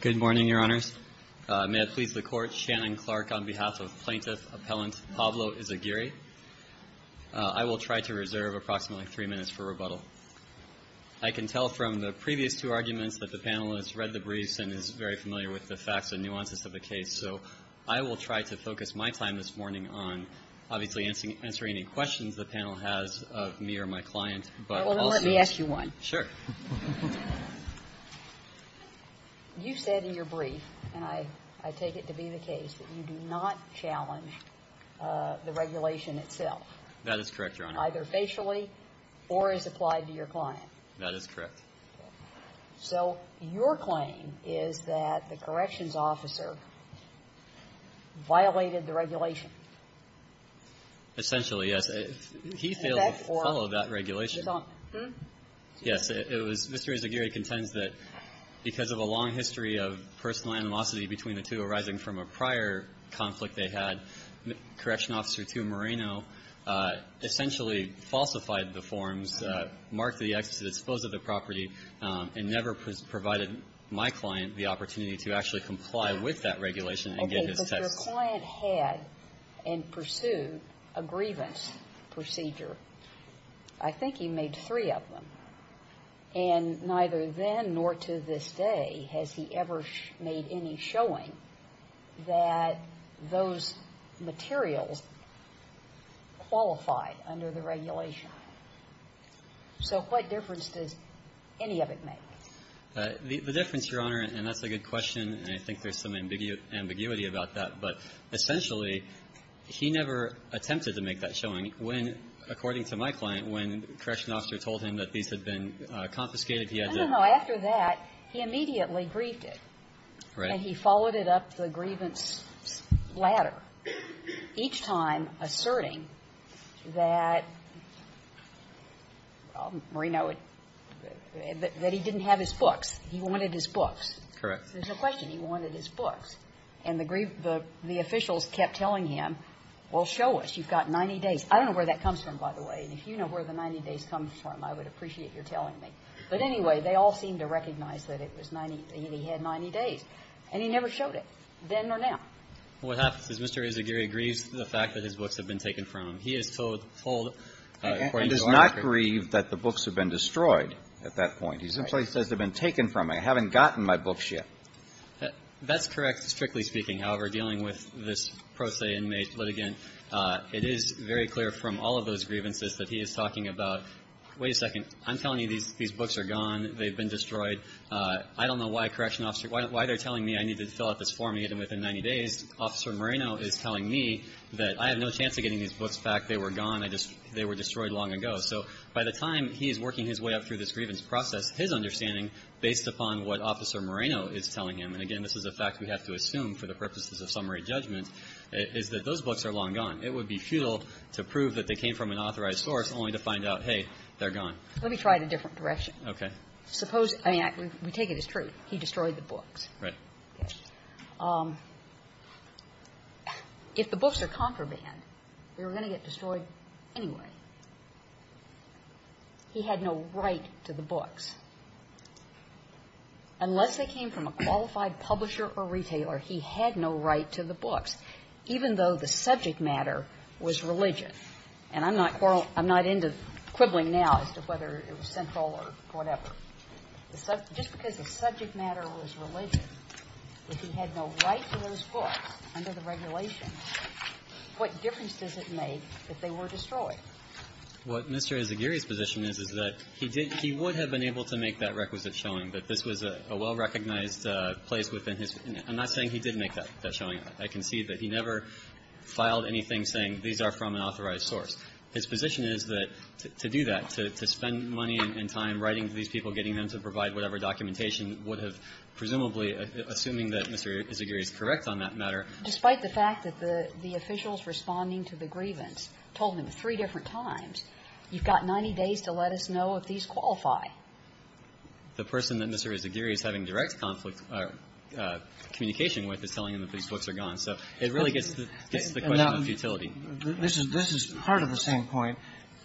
Good morning, Your Honors. May it please the Court. Shannon Clark on behalf of Plaintiff Appellant Pablo Izaguirre. I will try to reserve approximately three minutes for rebuttal. I can tell from the previous two arguments that the panel has read the briefs and is very familiar with the facts and nuances of the case, so I will try to focus my time this morning on, obviously, answering any questions the panel has of me or my client, but also the case itself. You said in your brief, and I take it to be the case, that you do not challenge the regulation itself. That is correct, Your Honor. Either facially or as applied to your client. That is correct. So your claim is that the corrections officer violated the regulation. Essentially, yes. He failed to follow that regulation. Yes. It was Mr. Izaguirre contends that because of a long history of personal animosity between the two arising from a prior conflict they had, Correctional Officer 2 Moreno essentially falsified the forms, marked the excesses, disposed of the property, and never provided my client the opportunity to actually comply with that regulation and get his test. So if the client had and pursued a grievance procedure, I think he made three of them. And neither then nor to this day has he ever made any showing that those materials qualify under the regulation. So what difference does any of it make? The difference, Your Honor, and that's a good question, and I think there's some But essentially, he never attempted to make that showing when, according to my client, when the corrections officer told him that these had been confiscated, he had to do it. No, no, no. After that, he immediately grieved it. Right. And he followed it up the grievance ladder, each time asserting that, well, Moreno would – that he didn't have his books. He wanted his books. Correct. There's a question. He wanted his books. And the officials kept telling him, well, show us. You've got 90 days. I don't know where that comes from, by the way. And if you know where the 90 days comes from, I would appreciate your telling me. But anyway, they all seemed to recognize that it was 90 – that he had 90 days. And he never showed it, then or now. What happens is Mr. Izaguri grieves the fact that his books have been taken from him. He is told – told, according to our inquiry – He does not grieve that the books have been destroyed at that point. He simply says they've been taken from him. I haven't gotten my books yet. That's correct, strictly speaking. However, dealing with this pro se inmate litigant, it is very clear from all of those grievances that he is talking about, wait a second, I'm telling you these books are gone, they've been destroyed. I don't know why correction officers – why they're telling me I need to fill out this form, even within 90 days. Officer Moreno is telling me that I have no chance of getting these books back. They were gone. I just – they were destroyed long ago. So by the time he is working his way up through this grievance process, his understanding, based upon what Officer Moreno is telling him – and again, this is a fact we have to assume for the purposes of summary judgment – is that those books are long gone. It would be futile to prove that they came from an authorized source only to find out, hey, they're gone. Let me try it a different direction. Okay. Suppose – I mean, we take it as true. He destroyed the books. Right. If the books are contraband, they were going to get destroyed anyway. He had no right to the books. Unless they came from a qualified publisher or retailer, he had no right to the books, even though the subject matter was religion. And I'm not – I'm not into quibbling now as to whether it was central or whatever. Just because the subject matter was religion, if he had no right to those books under the regulations, what difference does it make that they were destroyed? What Mr. Izaguirre's position is, is that he did – he would have been able to make that requisite showing that this was a well-recognized place within his – I'm not saying he did make that showing. I can see that he never filed anything saying these are from an authorized source. His position is that to do that, to spend money and time writing to these people, getting them to provide whatever documentation would have presumably – assuming that Mr. Izaguirre is correct on that matter. Despite the fact that the officials responding to the grievance told him three different times, you've got 90 days to let us know if these qualify. The person that Mr. Izaguirre is having direct conflict – communication with is telling him that these books are gone. So it really gets the question of futility. This is part of the same point.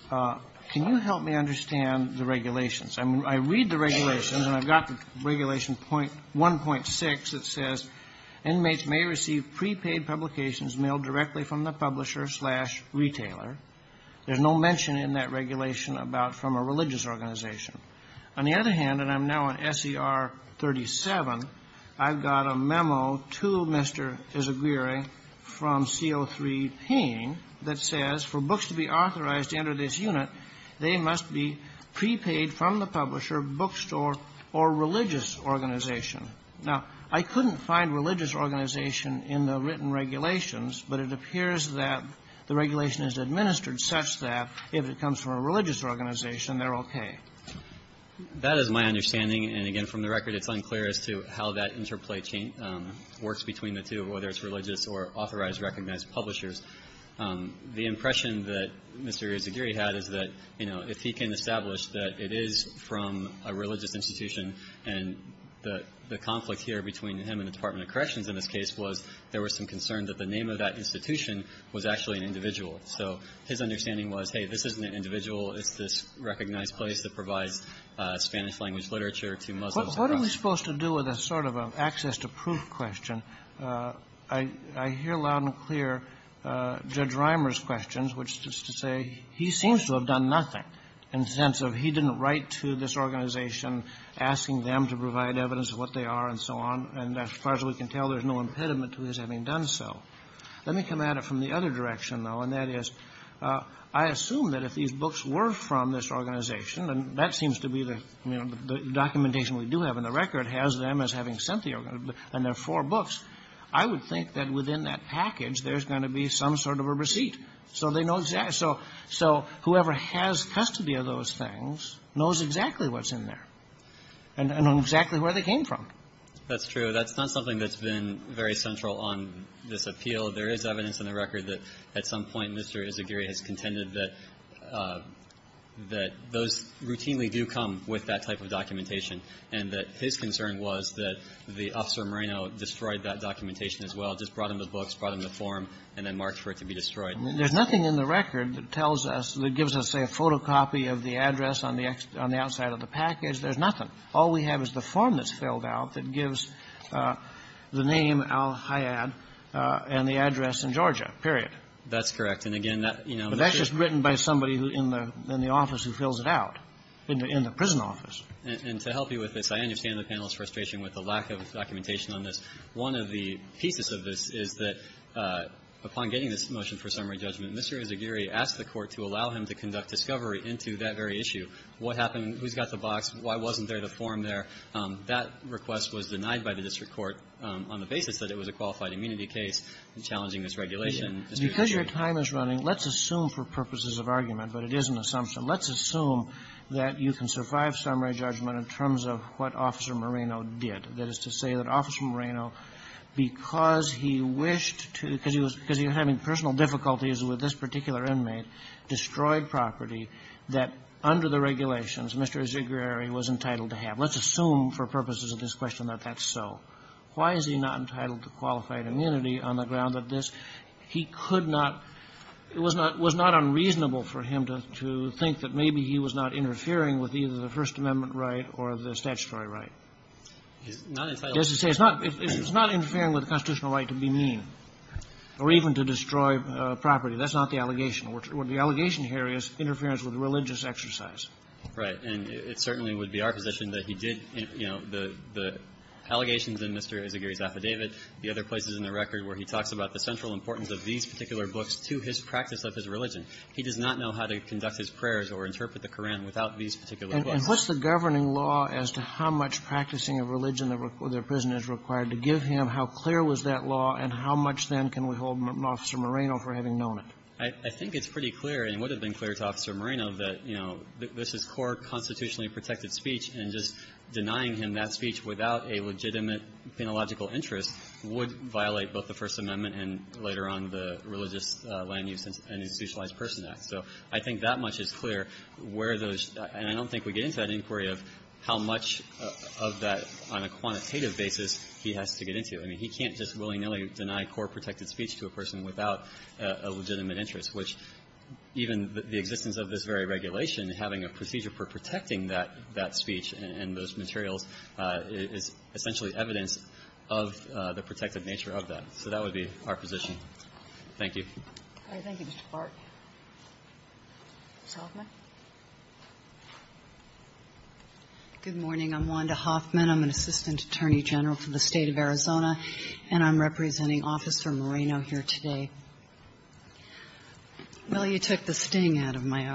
Can you help me understand the regulations? I mean, I read the regulations, and I've got the Regulation 1.6 that says, inmates may receive prepaid publications mailed directly from the publisher slash retailer. There's no mention in that regulation about from a religious organization. On the other hand, and I'm now on SER 37, I've got a memo to Mr. Izaguirre from CO3 Payne that says, for books to be authorized to enter this unit, they must be prepaid from the publisher, bookstore, or religious organization. Now, I couldn't find religious organization in the written regulations, but it appears that the regulation is administered such that if it comes from a religious organization, they're okay. That is my understanding. And again, from the record, it's unclear as to how that interplay chain works between the two, whether it's religious or authorized recognized publishers. The impression that Mr. Izaguirre had is that, you know, if he can establish that it is from a religious institution, and the conflict here between him and the Department of Corrections in this case was there was some concern that the name of that institution was actually an individual. So his understanding was, hey, this isn't an individual. It's this recognized place that provides Spanish-language literature to Muslims across the country. Kennedy. What are we supposed to do with a sort of an access-to-proof question? I hear loud and clear Judge Reimer's questions, which is to say, he seems to have done nothing in the sense of he didn't write to this organization asking them to provide evidence of what they are and so on. And as far as we can tell, there's no impediment to his having done so. Let me come at it from the other direction, though, and that is, I assume that if these books were from this organization, and that seems to be the, you know, the documentation we do have in the record has them as having sent the organization, and there are four books, I would think that within that package, there's going to be some sort of a receipt so they know exactly. So whoever has custody of those things knows exactly what's in there and knows exactly where they came from. That's true. That's not something that's been very central on this appeal. There is evidence in the record that at some point Mr. Izaguirre has contended that those routinely do come with that type of documentation, and that his concern was that the officer Moreno destroyed that documentation as well, just brought him the books, brought him the form, and then marked for it to be destroyed. There's nothing in the record that tells us, that gives us, say, a photocopy of the address on the outside of the package. There's nothing. All we have is the form that's filled out that gives the name Al-Hayyad and the address in Georgia, period. That's correct. And again, that, you know, the chip But that's just written by somebody in the office who fills it out, in the prison office. And to help you with this, I understand the panel's frustration with the lack of documentation on this. One of the pieces of this is that upon getting this motion for summary judgment, Mr. Izaguirre asked the Court to allow him to conduct discovery into that very issue. What happened? Who's got the box? Why wasn't there the form there? That request was denied by the district court on the basis that it was a qualified immunity case and challenging this regulation. Because your time is running, let's assume for purposes of argument, but it is an assumption. Let's assume that you can survive summary judgment in terms of what Officer Moreno did. That is to say that Officer Moreno, because he wished to — because he was — because he was having personal difficulties with this particular inmate, destroyed property that, under the regulations, Mr. Izaguirre was entitled to have. Let's assume for purposes of this question that that's so. Why is he not entitled to qualified immunity on the ground that this — he could not — it was not unreasonable for him to think that maybe he was not interfering with either the First Amendment right or the statutory right. He's not entitled to — He's not — it's not interfering with the constitutional right to be mean or even to destroy property. That's not the allegation. What the allegation here is interference with religious exercise. Right. And it certainly would be our position that he did, you know, the allegations in Mr. Izaguirre's affidavit, the other places in the record where he talks about the central importance of these particular books to his practice of his religion. He does not know how to conduct his prayers or interpret the Koran without these particular books. And what's the governing law as to how much practicing of religion that a prisoner is required to give him, how clear was that law, and how much, then, can we hold Officer Moreno for having known it? I think it's pretty clear and would have been clear to Officer Moreno that, you know, this is core constitutionally protected speech, and just denying him that speech without a legitimate penological interest would violate both the First Amendment and later on the Religious Land Use and Institutionalized Persons Act. So I think that much is clear where those – and I don't think we get into that inquiry of how much of that, on a quantitative basis, he has to get into. I mean, he can't just willy-nilly deny core protected speech to a person without a legitimate interest, which even the existence of this very regulation, having a procedure for protecting that speech and those materials is essentially evidence of the protected nature of that. So that would be our position. Thank you. Thank you, Mr. Clark. Ms. Hoffman. Good morning. I'm Wanda Hoffman. I'm an Assistant Attorney General for the State of Arizona, and I'm representing Officer Moreno here today. Well, you took the sting out of my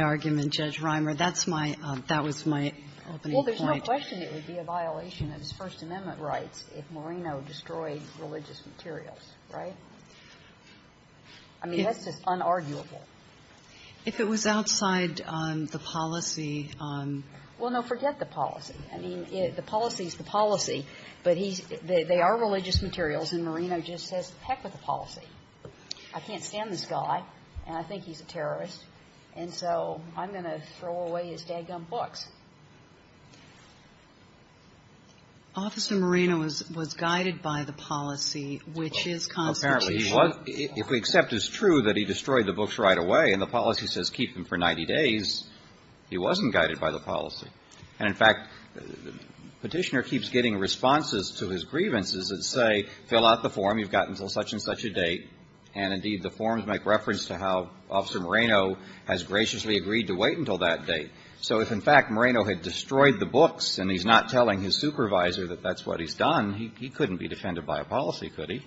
argument, Judge Reimer. That's my – that was my opening point. Well, there's no question it would be a violation of his First Amendment rights if Moreno destroyed religious materials, right? I mean, that's just unarguable. If it was outside the policy on… Well, no, forget the policy. I mean, the policy is the policy, but he's – they are religious materials, and Moreno just says, heck with the policy. I can't stand this guy, and I think he's a terrorist, and so I'm going to throw away his dag-gum books. Officer Moreno was guided by the policy, which is constitutional. Well, apparently he was. If we accept it's true that he destroyed the books right away and the policy says keep them for 90 days, he wasn't guided by the policy. And, in fact, Petitioner keeps getting responses to his grievances that say, fill out the form, you've got until such-and-such a date, and, indeed, the forms make reference to how Officer Moreno has graciously agreed to wait until that date. So if, in fact, Moreno had destroyed the books and he's not telling his supervisor that that's what he's done, he couldn't be defended by a policy, could he?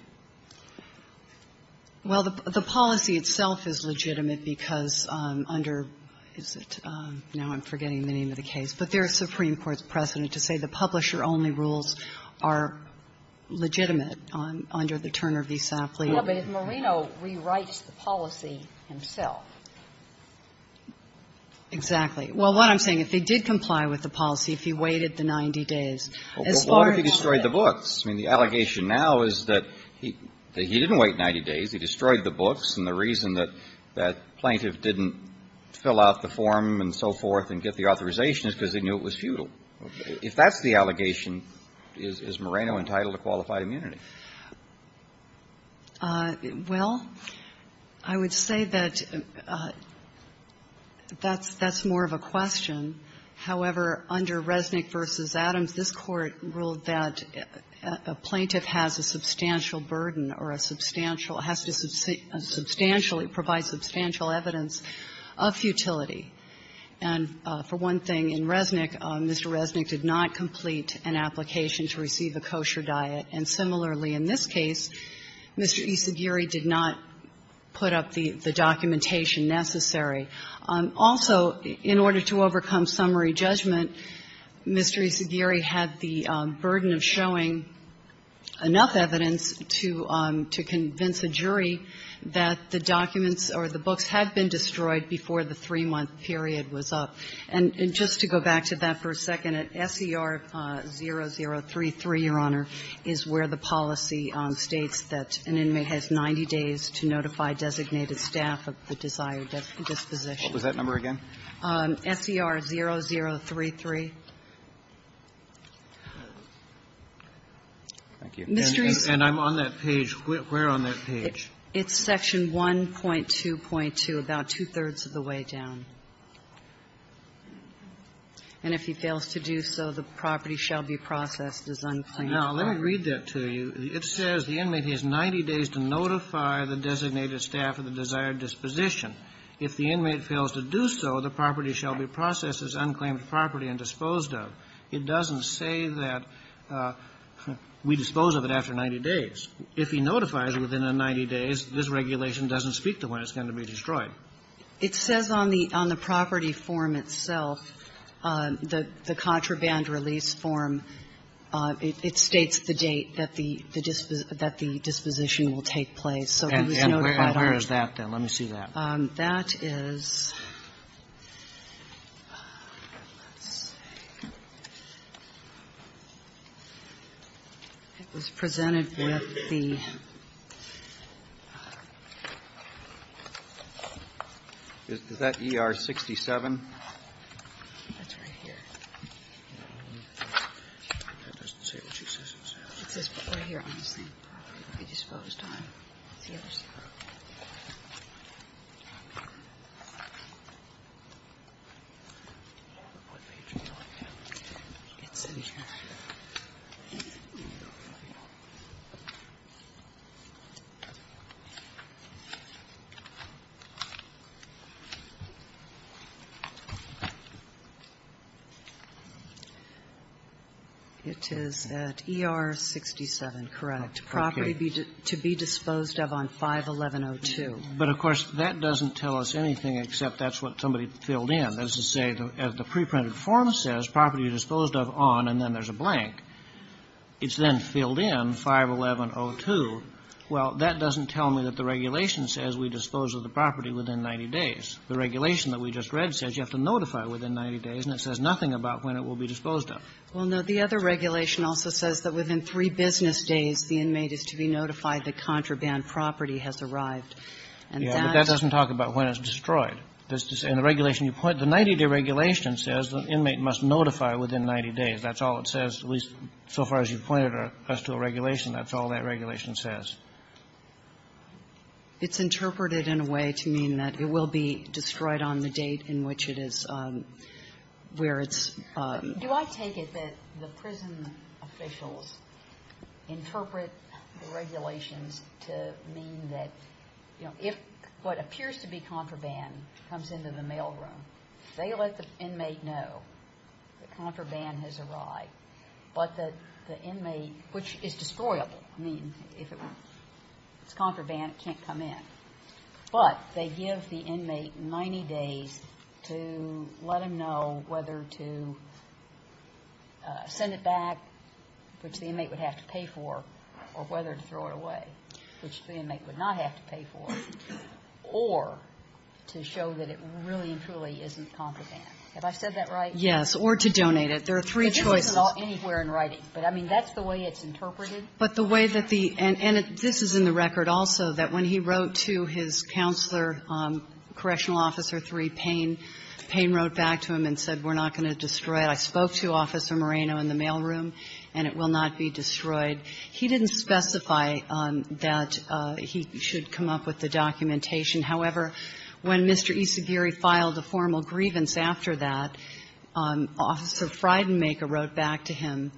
Well, the policy itself is legitimate because under – is it – now I'm forgetting the name of the case, but there is Supreme Court's precedent to say the publisher-only rules are legitimate under the Turner v. Safley. No, but if Moreno rewrites the policy himself. Exactly. Well, what I'm saying, if he did comply with the policy, if he waited the 90 days, as far as he could. Well, what if he destroyed the books? I mean, the allegation now is that he didn't wait 90 days. He destroyed the books. And the reason that plaintiff didn't fill out the form and so forth and get the authorization is because they knew it was futile. If that's the allegation, is Moreno entitled to qualified immunity? Well, I would say that that's more of a question. However, under Resnick v. Adams, this Court ruled that a plaintiff has a substantial burden or a substantial – has to substantially provide substantial evidence of futility. And for one thing, in Resnick, Mr. Resnick did not complete an application to receive a kosher diet. And similarly, in this case, Mr. Isagiri did not put up the documentation necessary. Also, in order to overcome summary judgment, Mr. Isagiri had the burden of showing enough evidence to convince a jury that the documents or the books had been destroyed before the three-month period was up. And just to go back to that for a second, at SER 0033, Your Honor, is where the policy states that an inmate has 90 days to notify designated staff of the desired disposition What was that number again? SER 0033. Thank you. And I'm on that page. Where on that page? It's Section 1.2.2, about two-thirds of the way down. And if he fails to do so, the property shall be processed as unclaimed property. Now, let me read that to you. It says the inmate has 90 days to notify the designated staff of the desired disposition. If the inmate fails to do so, the property shall be processed as unclaimed property and disposed of. It doesn't say that we dispose of it after 90 days. If he notifies within 90 days, this regulation doesn't speak to when it's going to be destroyed. It says on the property form itself, the contraband release form, it states the date that the disposition will take place. So it was notified on it. And where is that then? Let me see that. That is presented with the ER67. That's right here. It doesn't say what she says it says. It says right here on the same property. It's disposed on. It's the other side. What page are you on now? It's in here. Okay. It is at ER67, correct, property to be disposed of on 511-02. But, of course, that doesn't tell us anything except that's what somebody filled in. That is to say, as the preprinted form says, property disposed of on, and then there's a blank. It's then filled in, 511-02. Well, that doesn't tell me that the regulation says we dispose of the property within 90 days. The regulation that we just read says you have to notify within 90 days, and it says nothing about when it will be disposed of. Well, no. The other regulation also says that within three business days, the inmate is to be notified the contraband property has arrived. And that's the point. Yeah, but that doesn't talk about when it's destroyed. And the regulation you point to, the 90-day regulation says the inmate must notify within 90 days. That's all it says, at least so far as you've pointed us to a regulation. That's all that regulation says. It's interpreted in a way to mean that it will be destroyed on the date in which it is, where it's ‑‑ Do I take it that the prison officials interpret the regulations to mean that, you know, if what appears to be contraband comes into the mailroom, they let the inmate know that contraband has arrived, but that the inmate, which is destroyable. I mean, if it's contraband, it can't come in. But they give the inmate 90 days to let him know whether to send it back, which the inmate would have to pay for, or whether to throw it away, which the inmate would not have to pay for, or to show that it really and truly isn't contraband. Have I said that right? Yes. Or to donate it. There are three choices. But this isn't anywhere in writing. But, I mean, that's the way it's interpreted. But the way that the ‑‑ and this is in the record also, that when he wrote to his counselor, Correctional Officer 3, Payne, Payne wrote back to him and said, we're not going to destroy it. I spoke to Officer Moreno in the mailroom, and it will not be destroyed. He didn't specify that he should come up with the documentation. However, when Mr. Isagiri filed a formal grievance after that, Officer Frydenmaker wrote back to him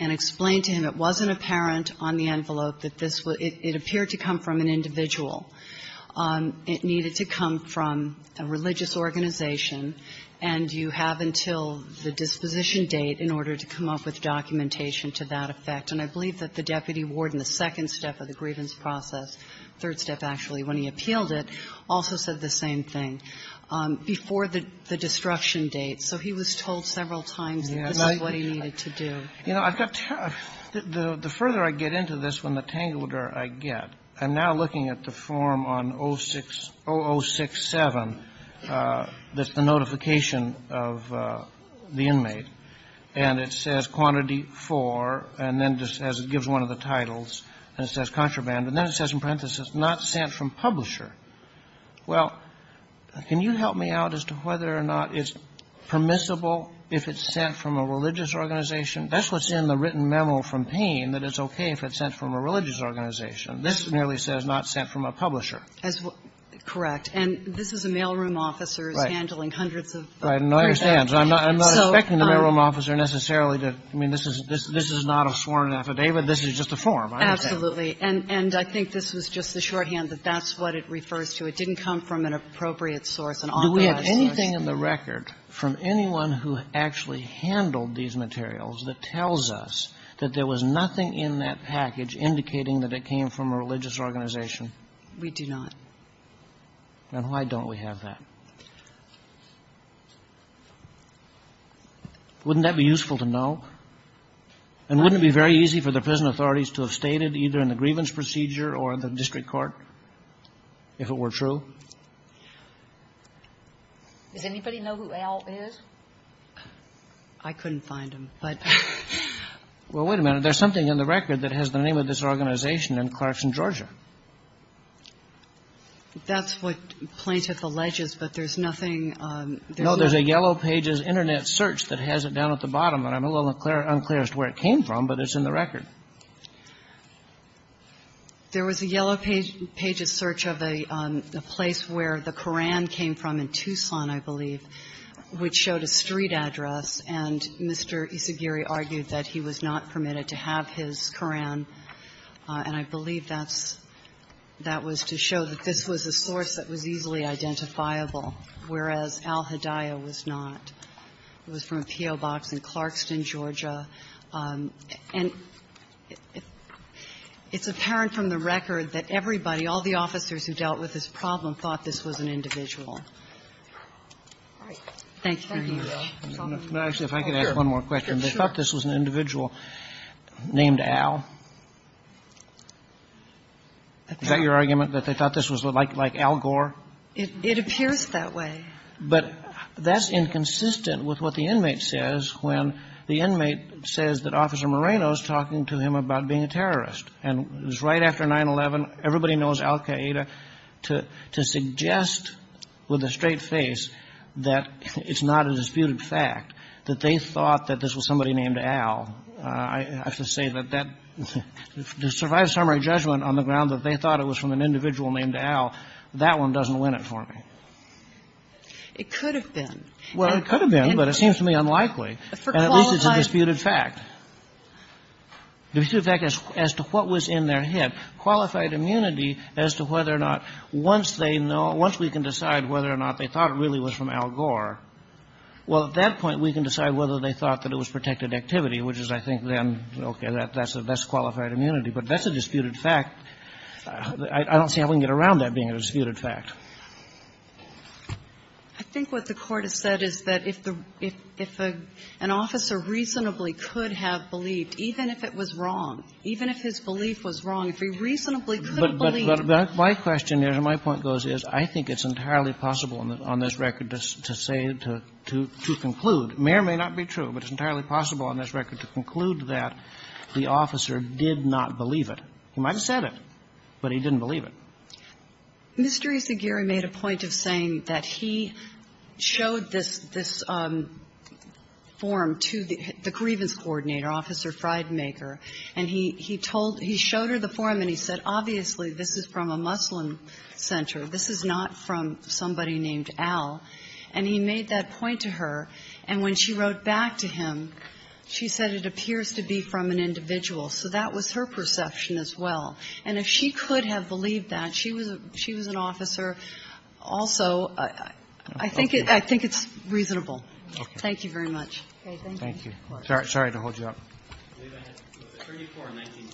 and explained to him it wasn't apparent on the envelope that this was ‑‑ it appeared to come from an individual. It needed to come from a religious organization, and you have until the disposition date in order to come up with documentation to that effect. And I believe that the deputy warden, the second step of the grievance process, third step, actually, when he appealed it, also said the same thing, before the destruction date. So he was told several times that this is what he needed to do. Kennedy. You know, I've got ‑‑ the further I get into this, when the tangleder I get, I'm now looking at the form on 0067, that's the notification of the inmate, and it says quantity for, and then just as it gives one of the titles, and it says contraband. And then it says in parenthesis, not sent from publisher. Well, can you help me out as to whether or not it's permissible if it's sent from a religious organization? That's what's in the written memo from Payne, that it's okay if it's sent from a religious organization. This merely says not sent from a publisher. Correct. And this is a mailroom officer handling hundreds of ‑‑ Right. And I understand. I'm not expecting the mailroom officer necessarily to ‑‑ I mean, this is not a sworn affidavit. This is just a form. Absolutely. And I think this was just the shorthand that that's what it refers to. It didn't come from an appropriate source, an authorized source. Do we have anything in the record from anyone who actually handled these materials that tells us that there was nothing in that package indicating that it came from a religious organization? We do not. And why don't we have that? Wouldn't that be useful to know? And wouldn't it be very easy for the prison authorities to have stated either in the grievance procedure or the district court if it were true? Does anybody know who Al is? I couldn't find him, but ‑‑ Well, wait a minute. There's something in the record that has the name of this organization and clerks in Georgia. That's what Plaintiff alleges, but there's nothing ‑‑ No, there's a Yellow Pages Internet search that has it down at the bottom. And I'm a little unclear as to where it came from, but it's in the record. There was a Yellow Pages search of a place where the Koran came from in Tucson, I believe, which showed a street address. And Mr. Isagiri argued that he was not permitted to have his Koran, and I believe that's ‑‑ that was to show that this was a source that was easily identifiable, whereas Al Hedaya was not. It was from a P.O. box in Clarkston, Georgia. And it's apparent from the record that everybody, all the officers who dealt with this problem, thought this was an individual. Thank you very much. Actually, if I could ask one more question. They thought this was an individual named Al. Is that your argument, that they thought this was like Al Gore? It appears that way. But that's inconsistent with what the inmate says when the inmate says that Officer Moreno is talking to him about being a terrorist. And it was right after 9-11, everybody knows Al Hedaya, to suggest with a straight face that it's not a disputed fact, that they thought that this was somebody named Al. I have to say that that ‑‑ to survive a summary judgment on the ground that they thought it was from an individual named Al, that one doesn't win it for me. It could have been. Well, it could have been, but it seems to me unlikely. For qualified ‑‑ And at least it's a disputed fact. A disputed fact as to what was in their head. Qualified immunity as to whether or not, once they know, once we can decide whether or not they thought it really was from Al Gore, well, at that point, we can decide whether they thought that it was protected activity, which is, I think then, okay, that's qualified immunity. But that's a disputed fact. I don't see how we can get around that being a disputed fact. I think what the Court has said is that if the ‑‑ if an officer reasonably could have believed, even if it was wrong, even if his belief was wrong, if he reasonably could have believed. But my question is, and my point goes, is I think it's entirely possible on this record to say, to conclude. It may or may not be true, but it's entirely possible on this record to conclude that the officer did not believe it. He might have said it, but he didn't believe it. Mr. Isagiri made a point of saying that he showed this ‑‑ this form to the grievance coordinator, Officer Frydmaker, and he told ‑‑ he showed her the form and he said, obviously, this is from a Muslim center. This is not from somebody named Al. And he made that point to her, and when she wrote back to him, she said it appears to be from an individual. So that was her perception as well. And if she could have believed that, she was an officer, also, I think it's reasonable. Thank you very much. Thank you. Roberts. Sorry to hold you up. I believe I had 34 and 19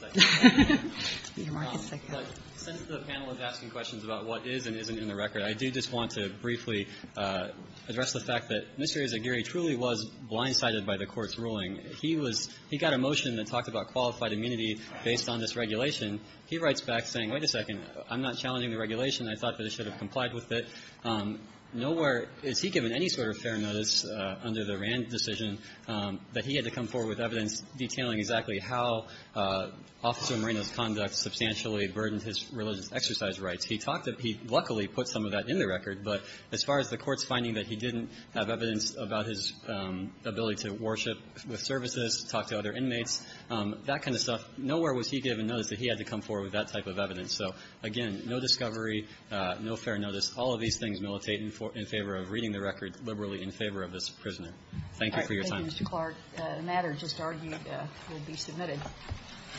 seconds. But since the panel is asking questions about what is and isn't in the record, I do just want to briefly address the fact that Mr. Isagiri truly was blindsided by the Court's ruling. He was ‑‑ he got a motion that talked about qualified immunity based on this regulation. He writes back saying, wait a second, I'm not challenging the regulation. I thought that it should have complied with it. Nowhere is he given any sort of fair notice under the Rand decision that he had to come forward with evidence detailing exactly how Officer Moreno's conduct substantially burdened his religious exercise rights. He talked to ‑‑ he luckily put some of that in the record. But as far as the Court's finding that he didn't have evidence about his ability to worship with services, talk to other inmates, that kind of stuff, nowhere was he given notice that he had to come forward with that type of evidence. So, again, no discovery, no fair notice. All of these things militate in favor of reading the record liberally in favor of this prisoner. Thank you for your time. Mr. Clark, a matter just argued will be submitted.